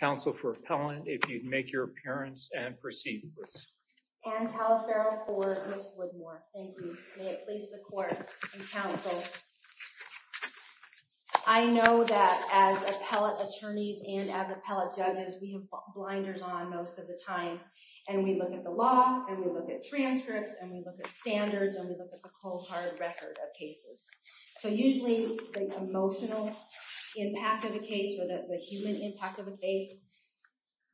Council for Appellant, if you'd make your appearance and proceed, please. Anne Talaferro for Ms. Woodmore. Thank you. May it please the Court and Council. I know that as appellate attorneys and as appellate judges, we have blinders on most of the time. And we look at the law, and we look at transcripts, and we look at standards, and we look at the cold hard record of cases. So usually, the emotional impact of a case or the human impact of a case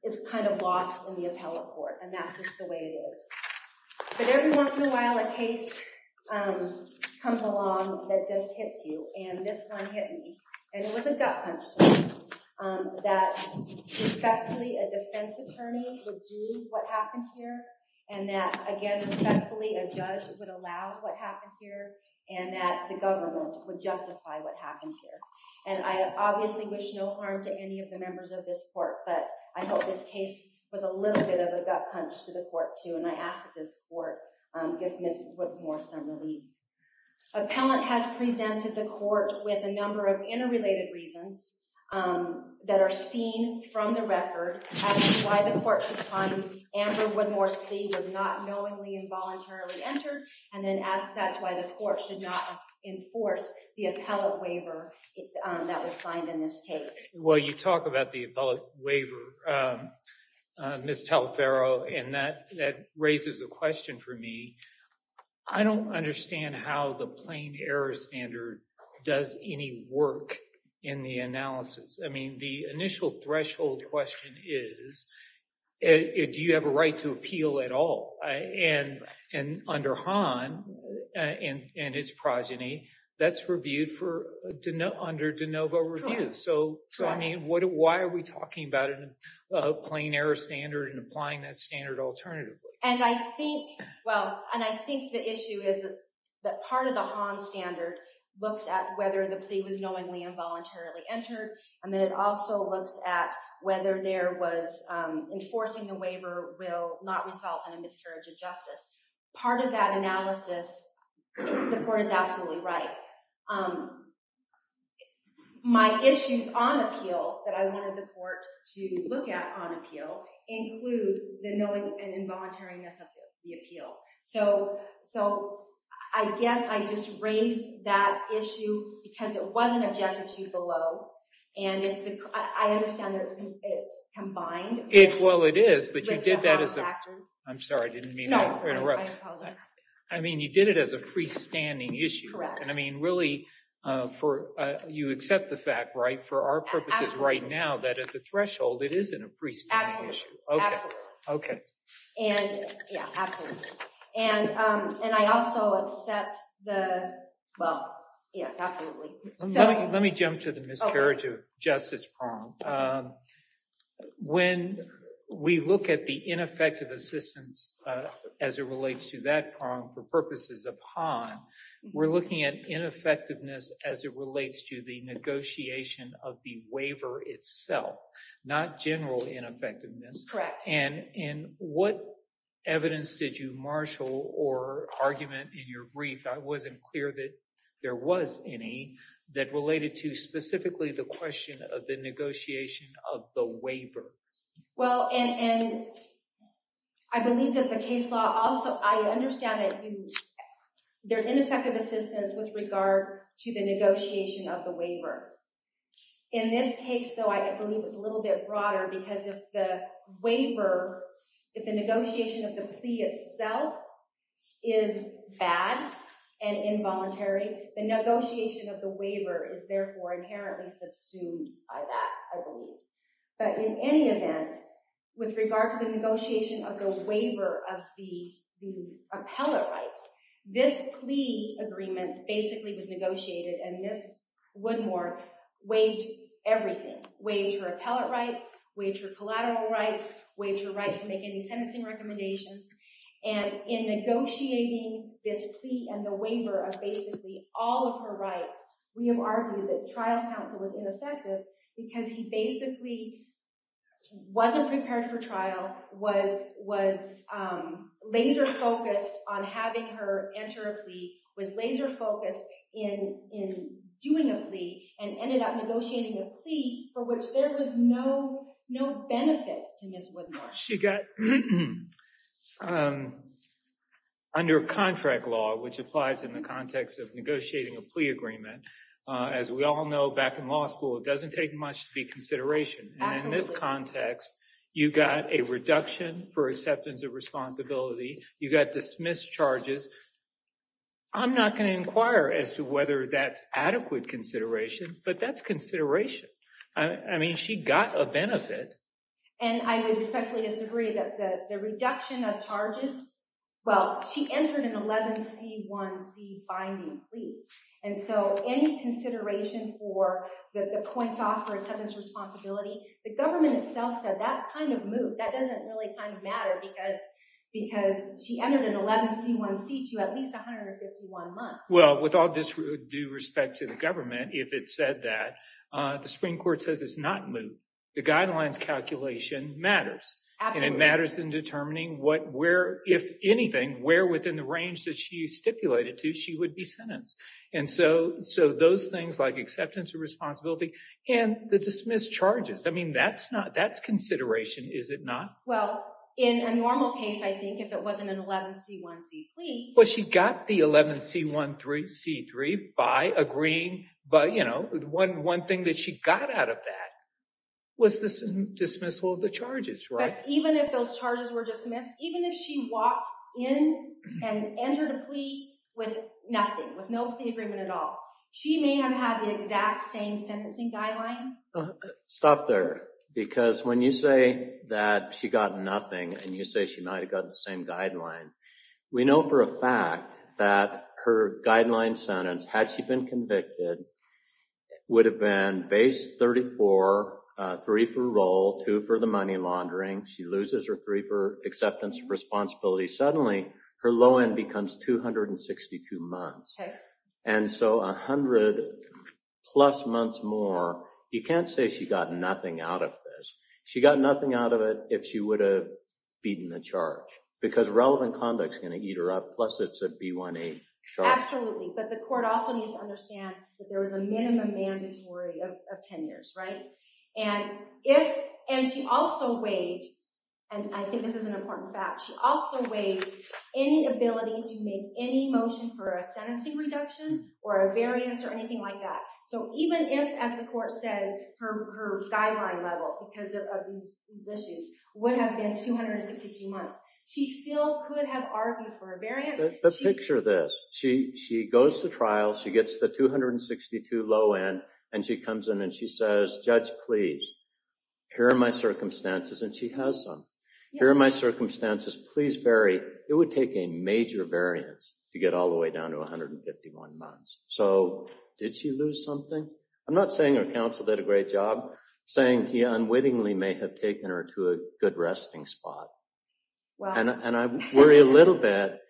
is kind of lost in the appellate court. And that's just the way it is. But every once in a while, a case comes along that just hits you. And this one hit me. And it was a gut punch to me that respectfully, a defense attorney would do what happened here. And that, again, respectfully, a judge would allow what happened here. And that the government would justify what happened here. And I obviously wish no harm to any of the members of this court. But I hope this case was a little bit of a gut punch to the court, too. And I ask that this court give Ms. Woodmore some relief. Appellant has presented the court with a number of interrelated reasons that are seen from the record. As to why the court should find Amber Woodmore's plea was not knowingly and voluntarily entered. And then as such, why the court should not enforce the appellate waiver that was signed in this case. Well, you talk about the appellate waiver, Ms. Talfaro, and that raises a question for me. I don't understand how the plain error standard does any work in the analysis. I mean, the initial threshold question is, do you have a right to appeal at all? And under Hahn and its progeny, that's reviewed under de novo review. So, I mean, why are we talking about a plain error standard and applying that standard alternatively? And I think the issue is that part of the Hahn standard looks at whether the plea was knowingly and voluntarily entered. And then it also looks at whether there was enforcing the waiver will not result in a miscarriage of justice. Part of that analysis, the court is absolutely right. My issues on appeal that I wanted the court to look at on appeal include the knowing and involuntariness of the appeal. So, I guess I just raised that issue because it wasn't objected to below. And I understand that it's combined. Well, it is, but you did that as a, I'm sorry, I didn't mean to interrupt. I mean, you did it as a freestanding issue. And I mean, really, for you accept the fact, right, for our purposes right now, that at the threshold, it isn't a freestanding issue. OK, OK. And yeah, absolutely. And and I also accept the. Well, yes, absolutely. Let me jump to the miscarriage of justice. When we look at the ineffective assistance as it relates to that, for purposes upon, we're looking at ineffectiveness as it relates to the negotiation of the waiver itself, not general ineffectiveness. Correct. And in what evidence did you marshal or argument in your brief? I wasn't clear that there was any that related to specifically the question of the negotiation of the waiver. Well, and I believe that the case law also I understand that there's ineffective assistance with regard to the negotiation of the waiver. In this case, though, I believe it's a little bit broader because of the waiver. If the negotiation of the plea itself is bad and involuntary, the negotiation of the waiver is therefore inherently subsumed by that. I believe that in any event, with regard to the negotiation of the waiver of the the appellate rights, this plea agreement basically was negotiated. And this one more wage, everything wage or appellate rights, which are collateral rights, which are right to make any sentencing recommendations. And in negotiating this plea and the waiver of basically all of her rights, we have argued that trial counsel was ineffective because he basically wasn't prepared for trial, was laser focused on having her enter a plea, was laser focused in doing a plea and ended up negotiating a plea for which there was no benefit to Ms. Woodmore. She got under contract law, which applies in the context of negotiating a plea agreement. As we all know, back in law school, it doesn't take much to be consideration. And in this context, you got a reduction for acceptance of responsibility. You got dismissed charges. I'm not going to inquire as to whether that's adequate consideration, but that's consideration. I mean, she got a benefit. And I would effectively disagree that the reduction of charges. Well, she entered an 11C1C binding plea. And so any consideration for the points off for acceptance of responsibility, the government itself said that's kind of moot. That doesn't really kind of matter because because she entered an 11C1C to at least 151 months. Well, with all due respect to the government, if it said that, the Supreme Court says it's not moot. The guidelines calculation matters and it matters in determining what, where, if anything, where within the range that she stipulated to, she would be sentenced. And so so those things like acceptance of responsibility and the dismissed charges. I mean, that's not that's consideration, is it not? Well, in a normal case, I think if it wasn't an 11C1C plea. Well, she got the 11C1C3 by agreeing. But, you know, one one thing that she got out of that was this dismissal of the charges. Right. Even if those charges were dismissed, even if she walked in and entered a plea with nothing, with no plea agreement at all, she may have had the exact same sentencing guideline. Stop there, because when you say that she got nothing and you say she might have gotten the same guideline. We know for a fact that her guideline sentence, had she been convicted, would have been base 34, three for roll, two for the money laundering. She loses her three for acceptance of responsibility. Suddenly her low end becomes 262 months. And so 100 plus months more. You can't say she got nothing out of this. She got nothing out of it if she would have beaten the charge because relevant conduct is going to eat her up. Plus, it's a B1A charge. Absolutely. But the court also needs to understand that there was a minimum mandatory of 10 years. Right. And if and she also weighed, and I think this is an important fact, she also weighed any ability to make any motion for a sentencing reduction or a variance or anything like that. So even if, as the court says, her guideline level because of these issues would have been 262 months, she still could have argued for a variance. But picture this. She goes to trial. She gets the 262 low end and she comes in and she says, Judge, please, here are my circumstances. And she has some. Here are my circumstances. Please vary. It would take a major variance to get all the way down to 151 months. So did she lose something? I'm not saying her counsel did a great job. I'm saying he unwittingly may have taken her to a good resting spot. And I worry a little bit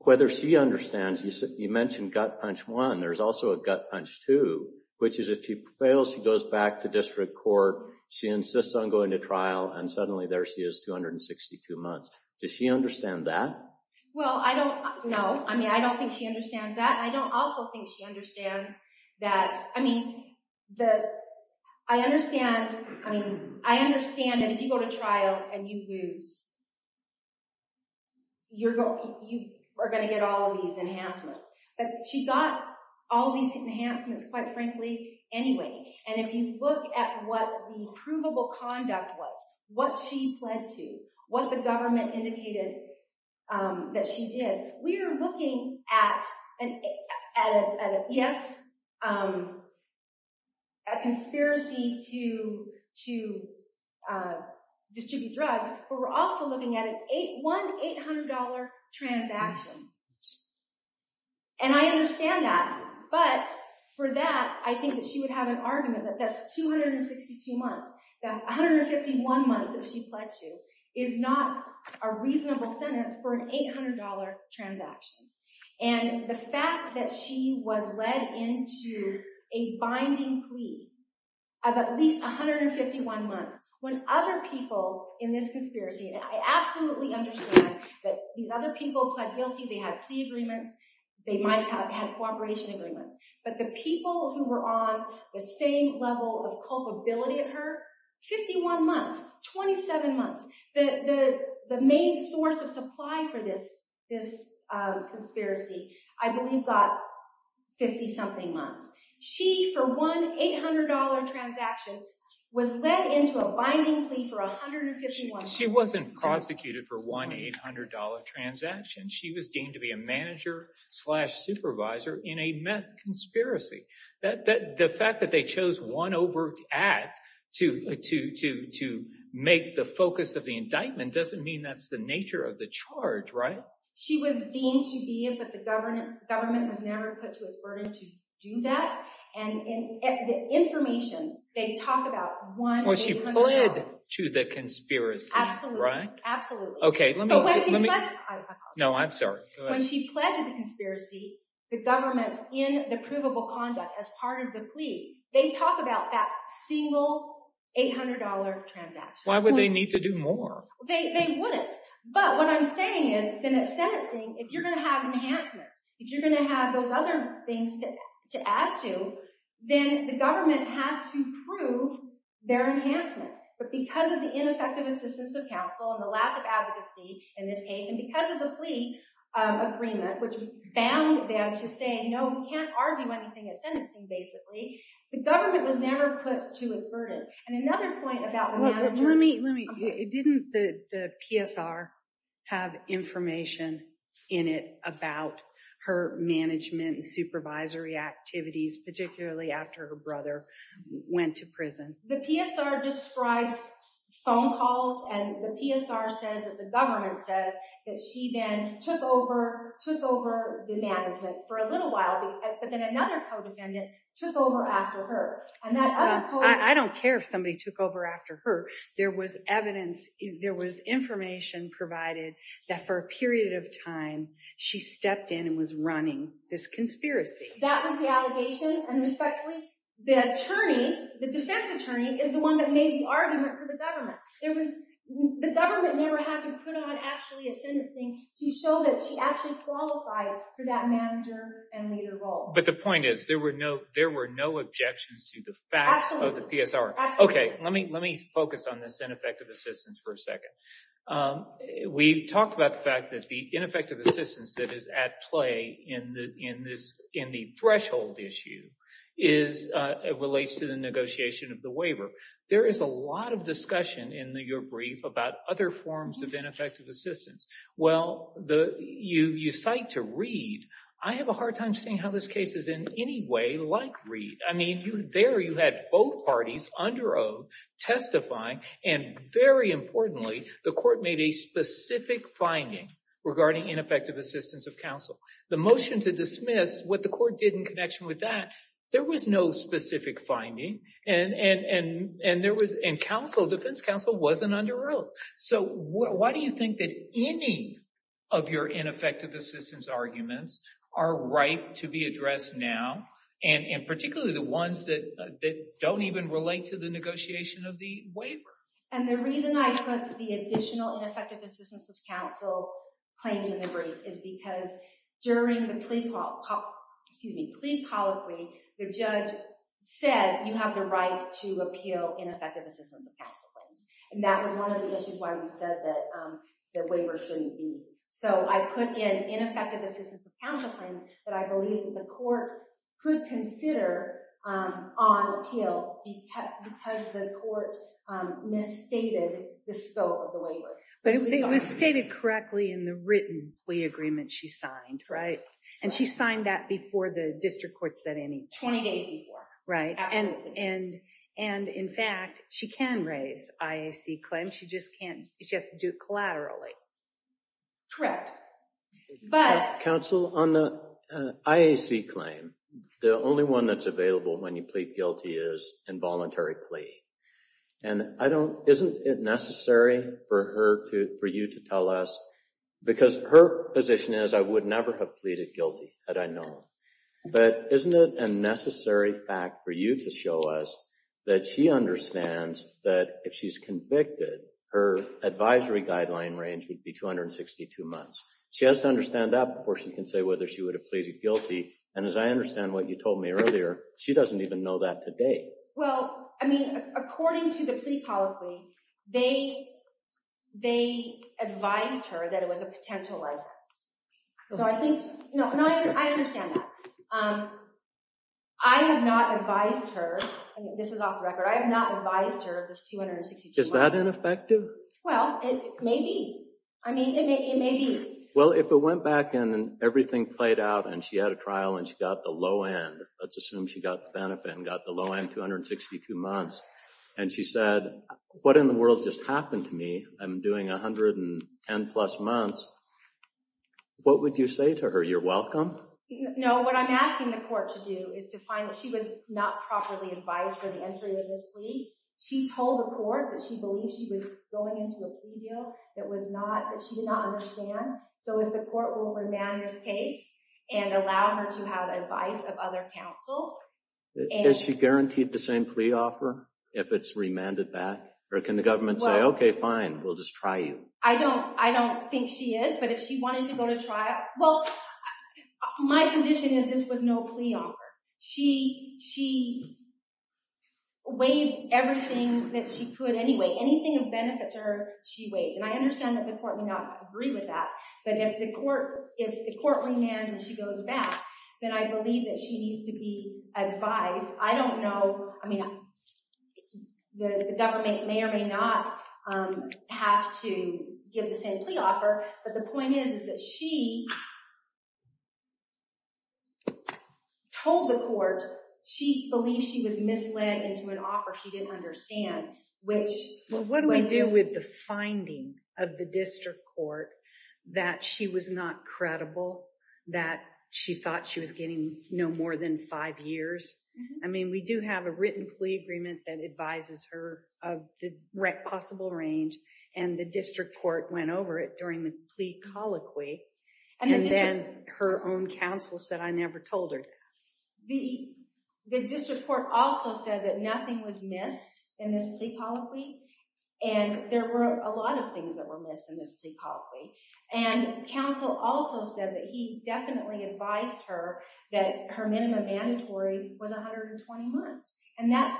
whether she understands. You mentioned gut punch one. There's also a gut punch two, which is if she fails, she goes back to district court. She insists on going to trial. And suddenly there she is 262 months. Does she understand that? Well, I don't know. I mean, I don't think she understands that. I don't also think she understands that. I mean, I understand that if you go to trial and you lose, you are going to get all of these enhancements. But she got all these enhancements, quite frankly, anyway. And if you look at what the provable conduct was, what she pled to, what the government indicated that she did, we are looking at, yes, a conspiracy to distribute drugs, but we're also looking at one $800 transaction. And I understand that. But for that, I think that she would have an argument that that's 262 months. That 151 months that she pled to is not a reasonable sentence for an $800 transaction. And the fact that she was led into a binding plea of at least 151 months when other people in this conspiracy, and I absolutely understand that these other people pled guilty. They had plea agreements. They might have had cooperation agreements. But the people who were on the same level of culpability at her, 51 months, 27 months. The main source of supply for this conspiracy, I believe, got 50-something months. She, for one $800 transaction, was led into a binding plea for 151 months. She wasn't prosecuted for one $800 transaction. She was deemed to be a manager slash supervisor in a meth conspiracy. The fact that they chose one overt act to make the focus of the indictment doesn't mean that's the nature of the charge, right? She was deemed to be, but the government has never put to its burden to do that. And the information they talk about, one $800. Well, she pled to the conspiracy, right? Absolutely. No, I'm sorry. When she pled to the conspiracy, the government's in the provable conduct as part of the plea. They talk about that single $800 transaction. Why would they need to do more? They wouldn't. But what I'm saying is that in a sentencing, if you're going to have enhancements, if you're going to have those other things to add to, then the government has to prove their enhancement. But because of the ineffective assistance of counsel and the lack of advocacy in this case, and because of the plea agreement, which bound them to say, no, we can't argue anything as sentencing, basically, the government was never put to its burden. And another point about the manager. Let me, didn't the PSR have information in it about her management and supervisory activities, particularly after her brother went to prison? The PSR describes phone calls, and the PSR says that the government says that she then took over, took over the management for a little while. But then another co-defendant took over after her. I don't care if somebody took over after her. There was evidence, there was information provided that for a period of time, she stepped in and was running this conspiracy. That was the allegation, and respectfully? The attorney, the defense attorney, is the one that made the argument for the government. The government never had to put on actually a sentencing to show that she actually qualified for that manager and leader role. But the point is, there were no objections to the facts of the PSR. Absolutely. Okay, let me focus on this ineffective assistance for a second. We talked about the fact that the ineffective assistance that is at play in the threshold issue relates to the negotiation of the waiver. There is a lot of discussion in your brief about other forms of ineffective assistance. Well, you cite to Reed. I have a hard time seeing how this case is in any way like Reed. I mean, there you had both parties under oath testifying, and very importantly, the court made a specific finding regarding ineffective assistance of counsel. The motion to dismiss, what the court did in connection with that, there was no specific finding, and counsel, defense counsel, wasn't under oath. So, why do you think that any of your ineffective assistance arguments are right to be addressed now, and particularly the ones that don't even relate to the negotiation of the waiver? And the reason I put the additional ineffective assistance of counsel claims in the brief is because during the plea polyphy, the judge said you have the right to appeal ineffective assistance of counsel claims. And that was one of the issues why we said that the waiver shouldn't be. So, I put in ineffective assistance of counsel claims that I believe the court could consider on appeal because the court misstated the scope of the waiver. But it was stated correctly in the written plea agreement she signed, right? And she signed that before the district court said anything. 20 days before. Right. And in fact, she can raise IAC claims. She just can't. She has to do it collaterally. Correct. But. Counsel, on the IAC claim, the only one that's available when you plead guilty is involuntary plea. And I don't, isn't it necessary for her to, for you to tell us, because her position is I would never have pleaded guilty had I known. But isn't it a necessary fact for you to show us that she understands that if she's convicted, her advisory guideline range would be 262 months. She has to understand that before she can say whether she would have pleaded guilty. And as I understand what you told me earlier, she doesn't even know that today. Well, I mean, according to the plea polyphy, they advised her that it was a potential license. So I think, no, no, I understand that. I have not advised her. This is off the record. I have not advised her of this 262 months. Is that ineffective? Well, it may be. I mean, it may be. Well, if it went back and everything played out and she had a trial and she got the low end, let's assume she got the benefit and got the low end 262 months. And she said, what in the world just happened to me? I'm doing 110 plus months. What would you say to her? You're welcome. No, what I'm asking the court to do is to find that she was not properly advised for the entry of this plea. She told the court that she believed she was going into a plea deal that she did not understand. So if the court will remand this case and allow her to have advice of other counsel. Is she guaranteed the same plea offer if it's remanded back? Or can the government say, okay, fine, we'll just try you? I don't think she is. But if she wanted to go to trial, well, my position is this was no plea offer. She waived everything that she could anyway. Anything of benefit to her, she waived. And I understand that the court may not agree with that. But if the court remands and she goes back, then I believe that she needs to be advised. I don't know. I mean, the government may or may not have to give the same plea offer. But the point is, is that she told the court she believed she was misled into an offer she didn't understand. What do we do with the finding of the district court that she was not credible? That she thought she was getting no more than five years? I mean, we do have a written plea agreement that advises her of the possible range. And the district court went over it during the plea colloquy. And then her own counsel said, I never told her. The district court also said that nothing was missed in this plea colloquy. And there were a lot of things that were missed in this plea colloquy. And counsel also said that he definitely advised her that her minimum mandatory was 120 months. And that's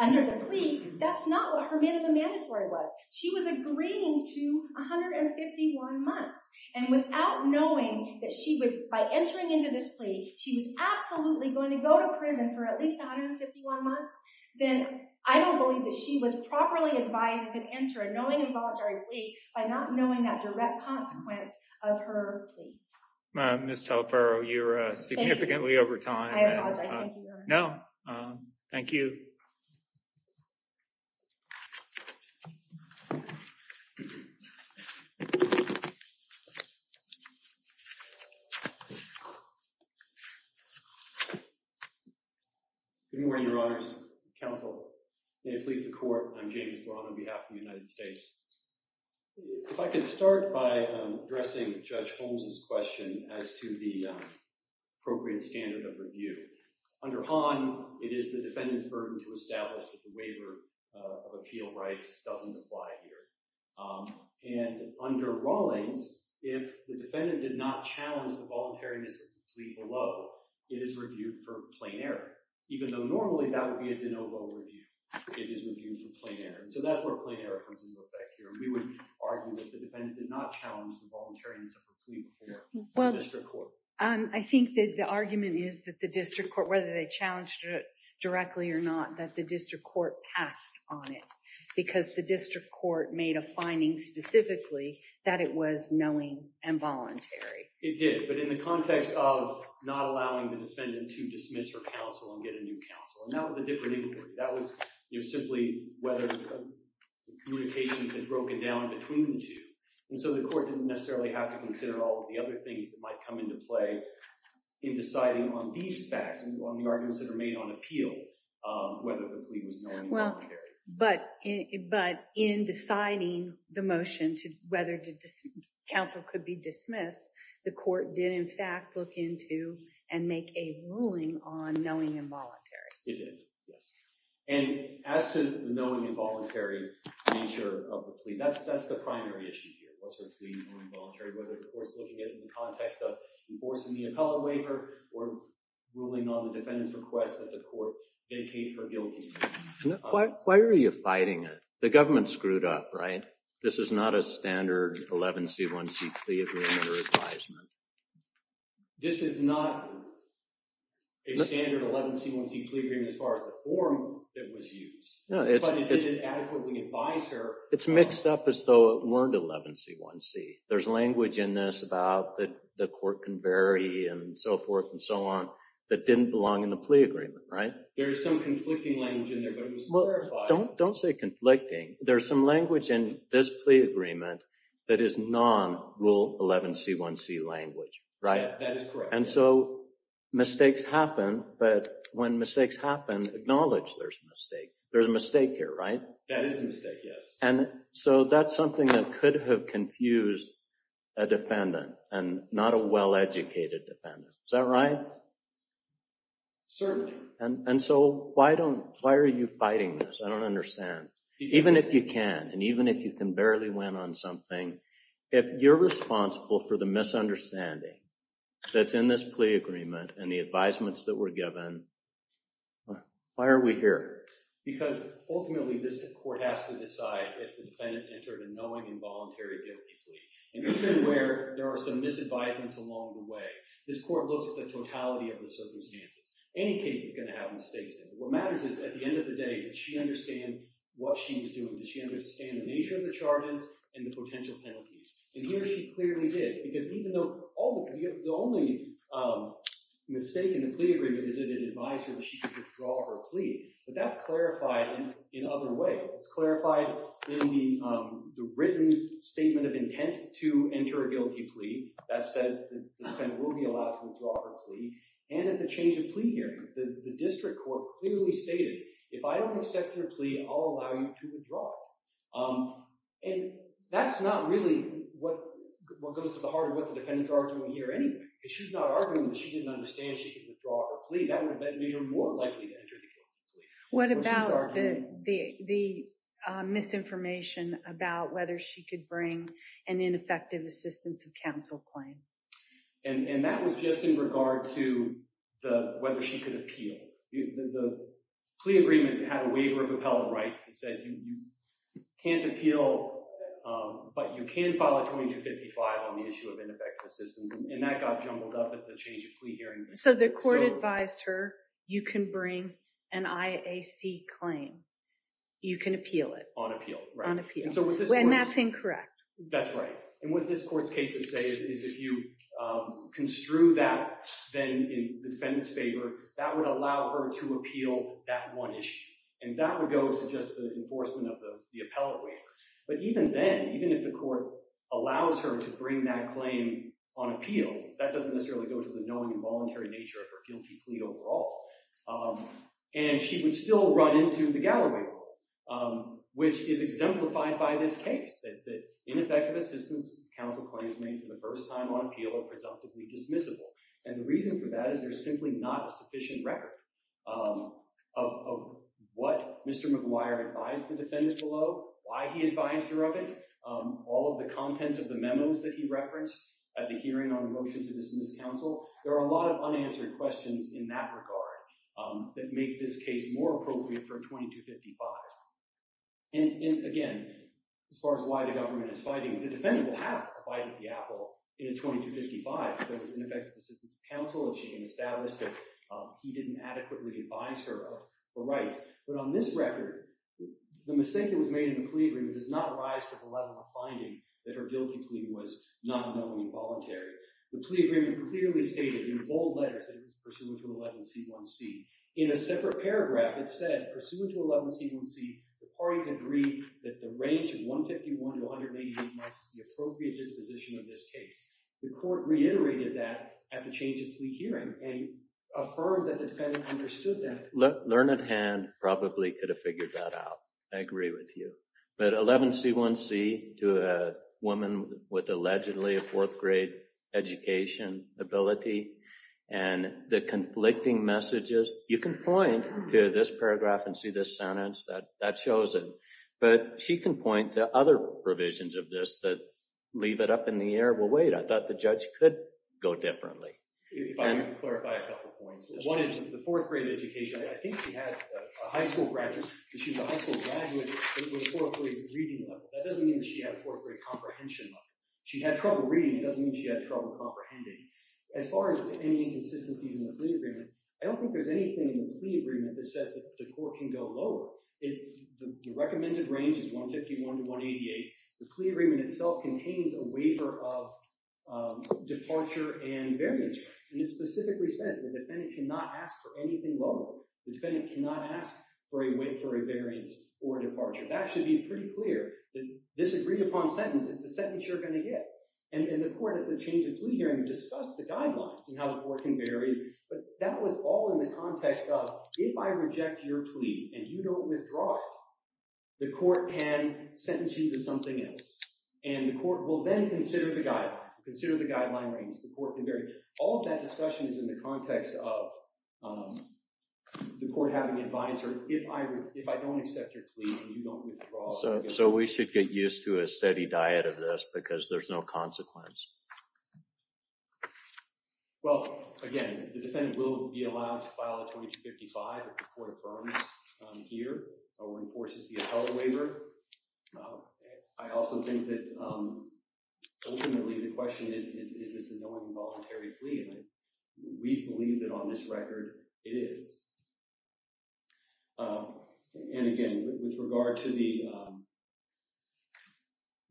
under the plea, that's not what her minimum mandatory was. She was agreeing to 151 months. And without knowing that she would, by entering into this plea, she was absolutely going to go to prison for at least 151 months. Then I don't believe that she was properly advised to enter a knowing involuntary plea by not knowing that direct consequence of her plea. Ms. Talaparo, you're significantly over time. I apologize. No, thank you. Good morning, Your Honors. Counsel, may it please the court, I'm James Braun on behalf of the United States. If I could start by addressing Judge Holmes's question as to the appropriate standard of review. Under Hahn, it is the defendant's burden to establish that the waiver of appeal rights doesn't apply here. And under Rawlings, if the defendant did not challenge the voluntariness of the plea below, it is reviewed for plain error. Even though normally that would be a de novo review, it is reviewed for plain error. So that's where plain error comes into effect here. We would argue that the defendant did not challenge the voluntariness of the plea before the district court. I think that the argument is that the district court, whether they challenged it directly or not, that the district court passed on it. Because the district court made a finding specifically that it was knowing and voluntary. It did, but in the context of not allowing the defendant to dismiss her counsel and get a new counsel. And that was a different inquiry. That was simply whether the communications had broken down between the two. And so the court didn't necessarily have to consider all of the other things that might come into play in deciding on these facts, on the arguments that are made on appeal, whether the plea was knowing or voluntary. But in deciding the motion to whether counsel could be dismissed, the court did in fact look into and make a ruling on knowing and voluntary. It did, yes. And as to the knowing and voluntary nature of the plea, that's the primary issue here. What's her plea, knowing and voluntary, whether the court's looking at it in the context of enforcing the appellate waiver or ruling on the defendant's request that the court dedicate her guilty. Why are you fighting it? The government screwed up, right? This is not a standard 11C1C plea agreement or advisement. This is not a standard 11C1C plea agreement as far as the form that was used. But it didn't adequately advise her. It's mixed up as though it weren't 11C1C. There's language in this about the court can vary and so forth and so on that didn't belong in the plea agreement, right? There's some conflicting language in there, but it was clarified. Don't say conflicting. There's some language in this plea agreement that is non-rule 11C1C language, right? That is correct. And so mistakes happen, but when mistakes happen, acknowledge there's a mistake. There's a mistake here, right? That is a mistake, yes. And so that's something that could have confused a defendant and not a well-educated defendant. Is that right? Certainly. And so why are you fighting this? I don't understand. Even if you can and even if you can barely win on something, if you're responsible for the misunderstanding that's in this plea agreement and the advisements that were given, why are we here? Because ultimately this court has to decide if the defendant entered a knowing involuntary guilty plea. And even where there are some misadvisements along the way, this court looks at the totality of the circumstances. Any case is going to have mistakes in it. What matters is at the end of the day, does she understand what she's doing? Does she understand the nature of the charges and the potential penalties? And here she clearly did because even though the only mistake in the plea agreement is that it advised her that she could withdraw her plea. But that's clarified in other ways. It's clarified in the written statement of intent to enter a guilty plea that says the defendant will be allowed to withdraw her plea. And at the change of plea hearing, the district court clearly stated, if I don't accept your plea, I'll allow you to withdraw it. And that's not really what goes to the heart of what the defendants are arguing here anyway. If she's not arguing that she didn't understand she could withdraw her plea, that would have made her more likely to enter the guilty plea. What about the misinformation about whether she could bring an ineffective assistance of counsel claim? And that was just in regard to whether she could appeal. The plea agreement had a waiver of appellate rights that said you can't appeal, but you can file a 2255 on the issue of ineffective assistance. And that got jumbled up at the change of plea hearing. So the court advised her you can bring an IAC claim. You can appeal it. On appeal. On appeal. And that's incorrect. That's right. And what this court's cases say is if you construe that then in the defendant's favor, that would allow her to appeal that one issue. And that would go to just the enforcement of the appellate waiver. But even then, even if the court allows her to bring that claim on appeal, that doesn't necessarily go to the knowing and voluntary nature of her guilty plea overall. And she would still run into the Galloway Rule, which is exemplified by this case, that ineffective assistance counsel claims made for the first time on appeal are presumptively dismissible. And the reason for that is there's simply not a sufficient record of what Mr. McGuire advised the defendant below, why he advised her of it, all of the contents of the memos that he referenced at the hearing on the motion to dismiss counsel. There are a lot of unanswered questions in that regard that make this case more appropriate for a 2255. And again, as far as why the government is fighting, the defendant will have a bite at the apple in a 2255. There was ineffective assistance counsel, and she can establish that he didn't adequately advise her of the rights. But on this record, the mistake that was made in the plea agreement does not rise to the level of finding that her guilty plea was not a knowing and voluntary. The plea agreement clearly stated in bold letters that it was pursuant to 11C1C. In a separate paragraph, it said, pursuant to 11C1C, the parties agreed that the range of 151 to 188 months is the appropriate disposition of this case. The court reiterated that at the change of plea hearing and affirmed that the defendant understood that. Learned Hand probably could have figured that out. I agree with you. But 11C1C to a woman with allegedly a fourth grade education ability and the conflicting messages. You can point to this paragraph and see this sentence that that shows it, but she can point to other provisions of this that leave it up in the air. Well, wait, I thought the judge could go differently. If I can clarify a couple points. One is the fourth grade education. I think she had a high school graduate. She's a high school graduate with a fourth grade reading level. That doesn't mean she had a fourth grade comprehension level. She had trouble reading. It doesn't mean she had trouble comprehending. As far as any inconsistencies in the plea agreement, I don't think there's anything in the plea agreement that says that the court can go lower. The recommended range is 151 to 188. The plea agreement itself contains a waiver of departure and variance. And it specifically says the defendant cannot ask for anything lower. The defendant cannot ask for a wait for a variance or departure. That should be pretty clear that this agreed upon sentence is the sentence you're going to get. And the court at the change of plea hearing discussed the guidelines and how the court can vary. But that was all in the context of if I reject your plea and you don't withdraw it, the court can sentence you to something else. And the court will then consider the guideline. Consider the guideline range. All of that discussion is in the context of the court having advice or if I don't accept your plea and you don't withdraw. So we should get used to a steady diet of this because there's no consequence. Well, again, the defendant will be allowed to file a 2255 if the court affirms here or enforces the appellate waiver. I also think that ultimately the question is, is this an involuntary plea? And we believe that on this record it is. And again, with regard to the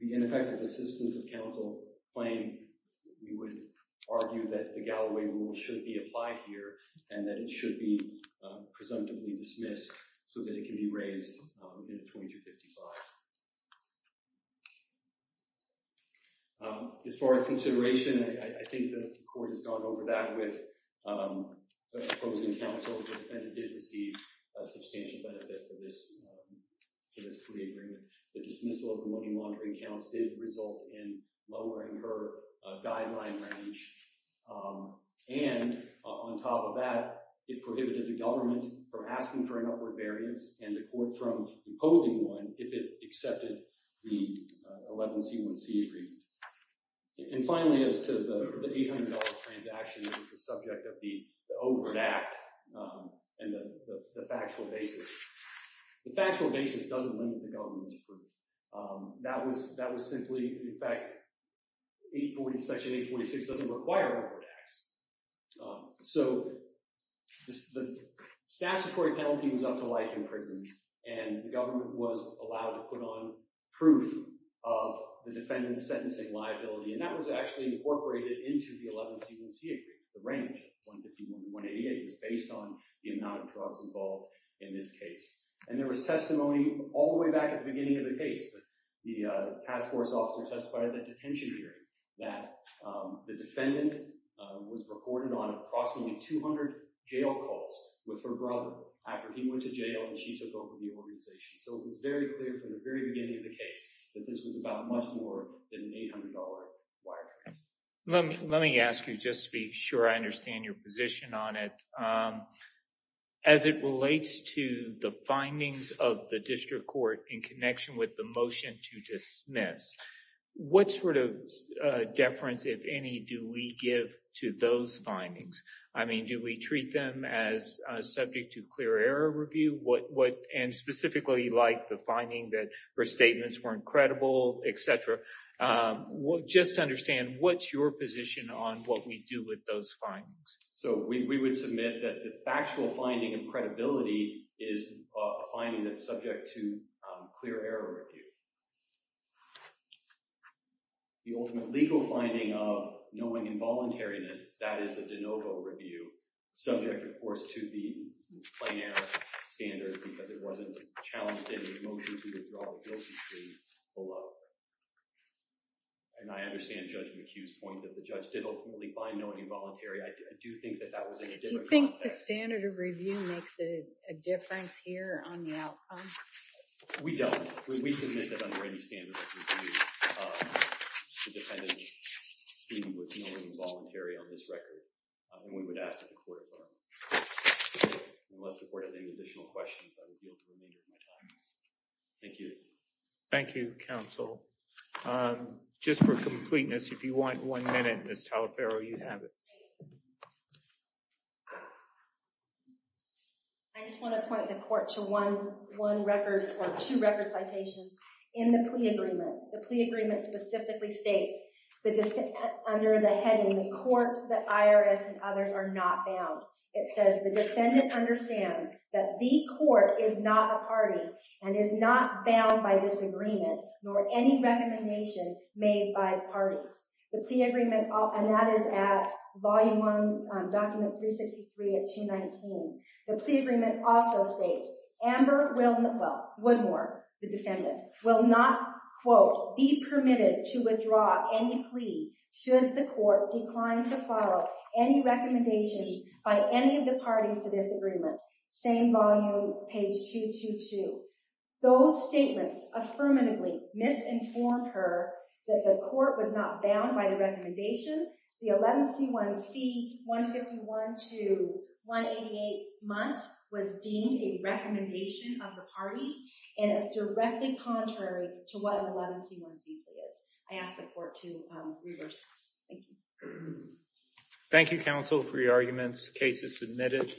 ineffective assistance of counsel claim, we would argue that the Galloway rule should be applied here and that it should be presumptively dismissed so that it can be raised in a 2255. As far as consideration, I think the court has gone over that with the opposing counsel. The defendant did receive a substantial benefit for this plea agreement. The dismissal of the money laundering counts did result in lowering her guideline range. And on top of that, it prohibited the government from asking for an upward variance and the court from imposing one if it accepted the 11C1C agreement. And finally, as to the $800 transaction, the subject of the overt act and the factual basis. The factual basis doesn't limit the government's proof. That was simply, in fact, Section 846 doesn't require upward acts. So the statutory penalty was up to life in prison, and the government was allowed to put on proof of the defendant's sentencing liability. And that was actually incorporated into the 11C1C agreement. The range, 151 to 188, was based on the amount of drugs involved in this case. And there was testimony all the way back at the beginning of the case. The task force officer testified at the detention hearing that the defendant was reported on approximately 200 jail calls with her brother after he went to jail and she took over the organization. So it was very clear from the very beginning of the case that this was about much more than an $800 wire transfer. Let me ask you, just to be sure I understand your position on it. As it relates to the findings of the district court in connection with the motion to dismiss, what sort of deference, if any, do we give to those findings? I mean, do we treat them as subject to clear error review? And specifically, like the finding that her statements weren't credible, et cetera. Just to understand, what's your position on what we do with those findings? So we would submit that the factual finding of credibility is a finding that's subject to clear error review. The ultimate legal finding of knowing involuntariness, that is a de novo review, subject, of course, to the plain error standard because it wasn't challenged in the motion to withdraw the guilty plea below. And I understand Judge McHugh's point that the judge did ultimately find knowing involuntary. I do think that that was in a different context. Do you think the standard of review makes a difference here on the outcome? We don't. We submit that under any standard of review, the defendant was knowing involuntary on this record. And we would ask that the court, unless the court has any additional questions, I would yield the remainder of my time. Thank you. Thank you, counsel. Just for completeness, if you want one minute, Ms. Talaferro, you have it. I just want to point the court to one record or two record citations in the plea agreement. The plea agreement specifically states under the heading, the court, the IRS, and others are not bound. It says the defendant understands that the court is not a party and is not bound by this agreement nor any recommendation made by parties. The plea agreement, and that is at volume one, document 363 at 219. The plea agreement also states Amber Woodmore, the defendant, will not, quote, be permitted to withdraw any plea should the court decline to follow any recommendations by any of the parties to this agreement. Same volume, page 222. Those statements affirmatively misinformed her that the court was not bound by the recommendation. The 11C1C 151 to 188 months was deemed a recommendation of the parties and is directly contrary to what an 11C1C plea is. I ask the court to reverse this. Thank you. Thank you, counsel, for your arguments. Case is submitted.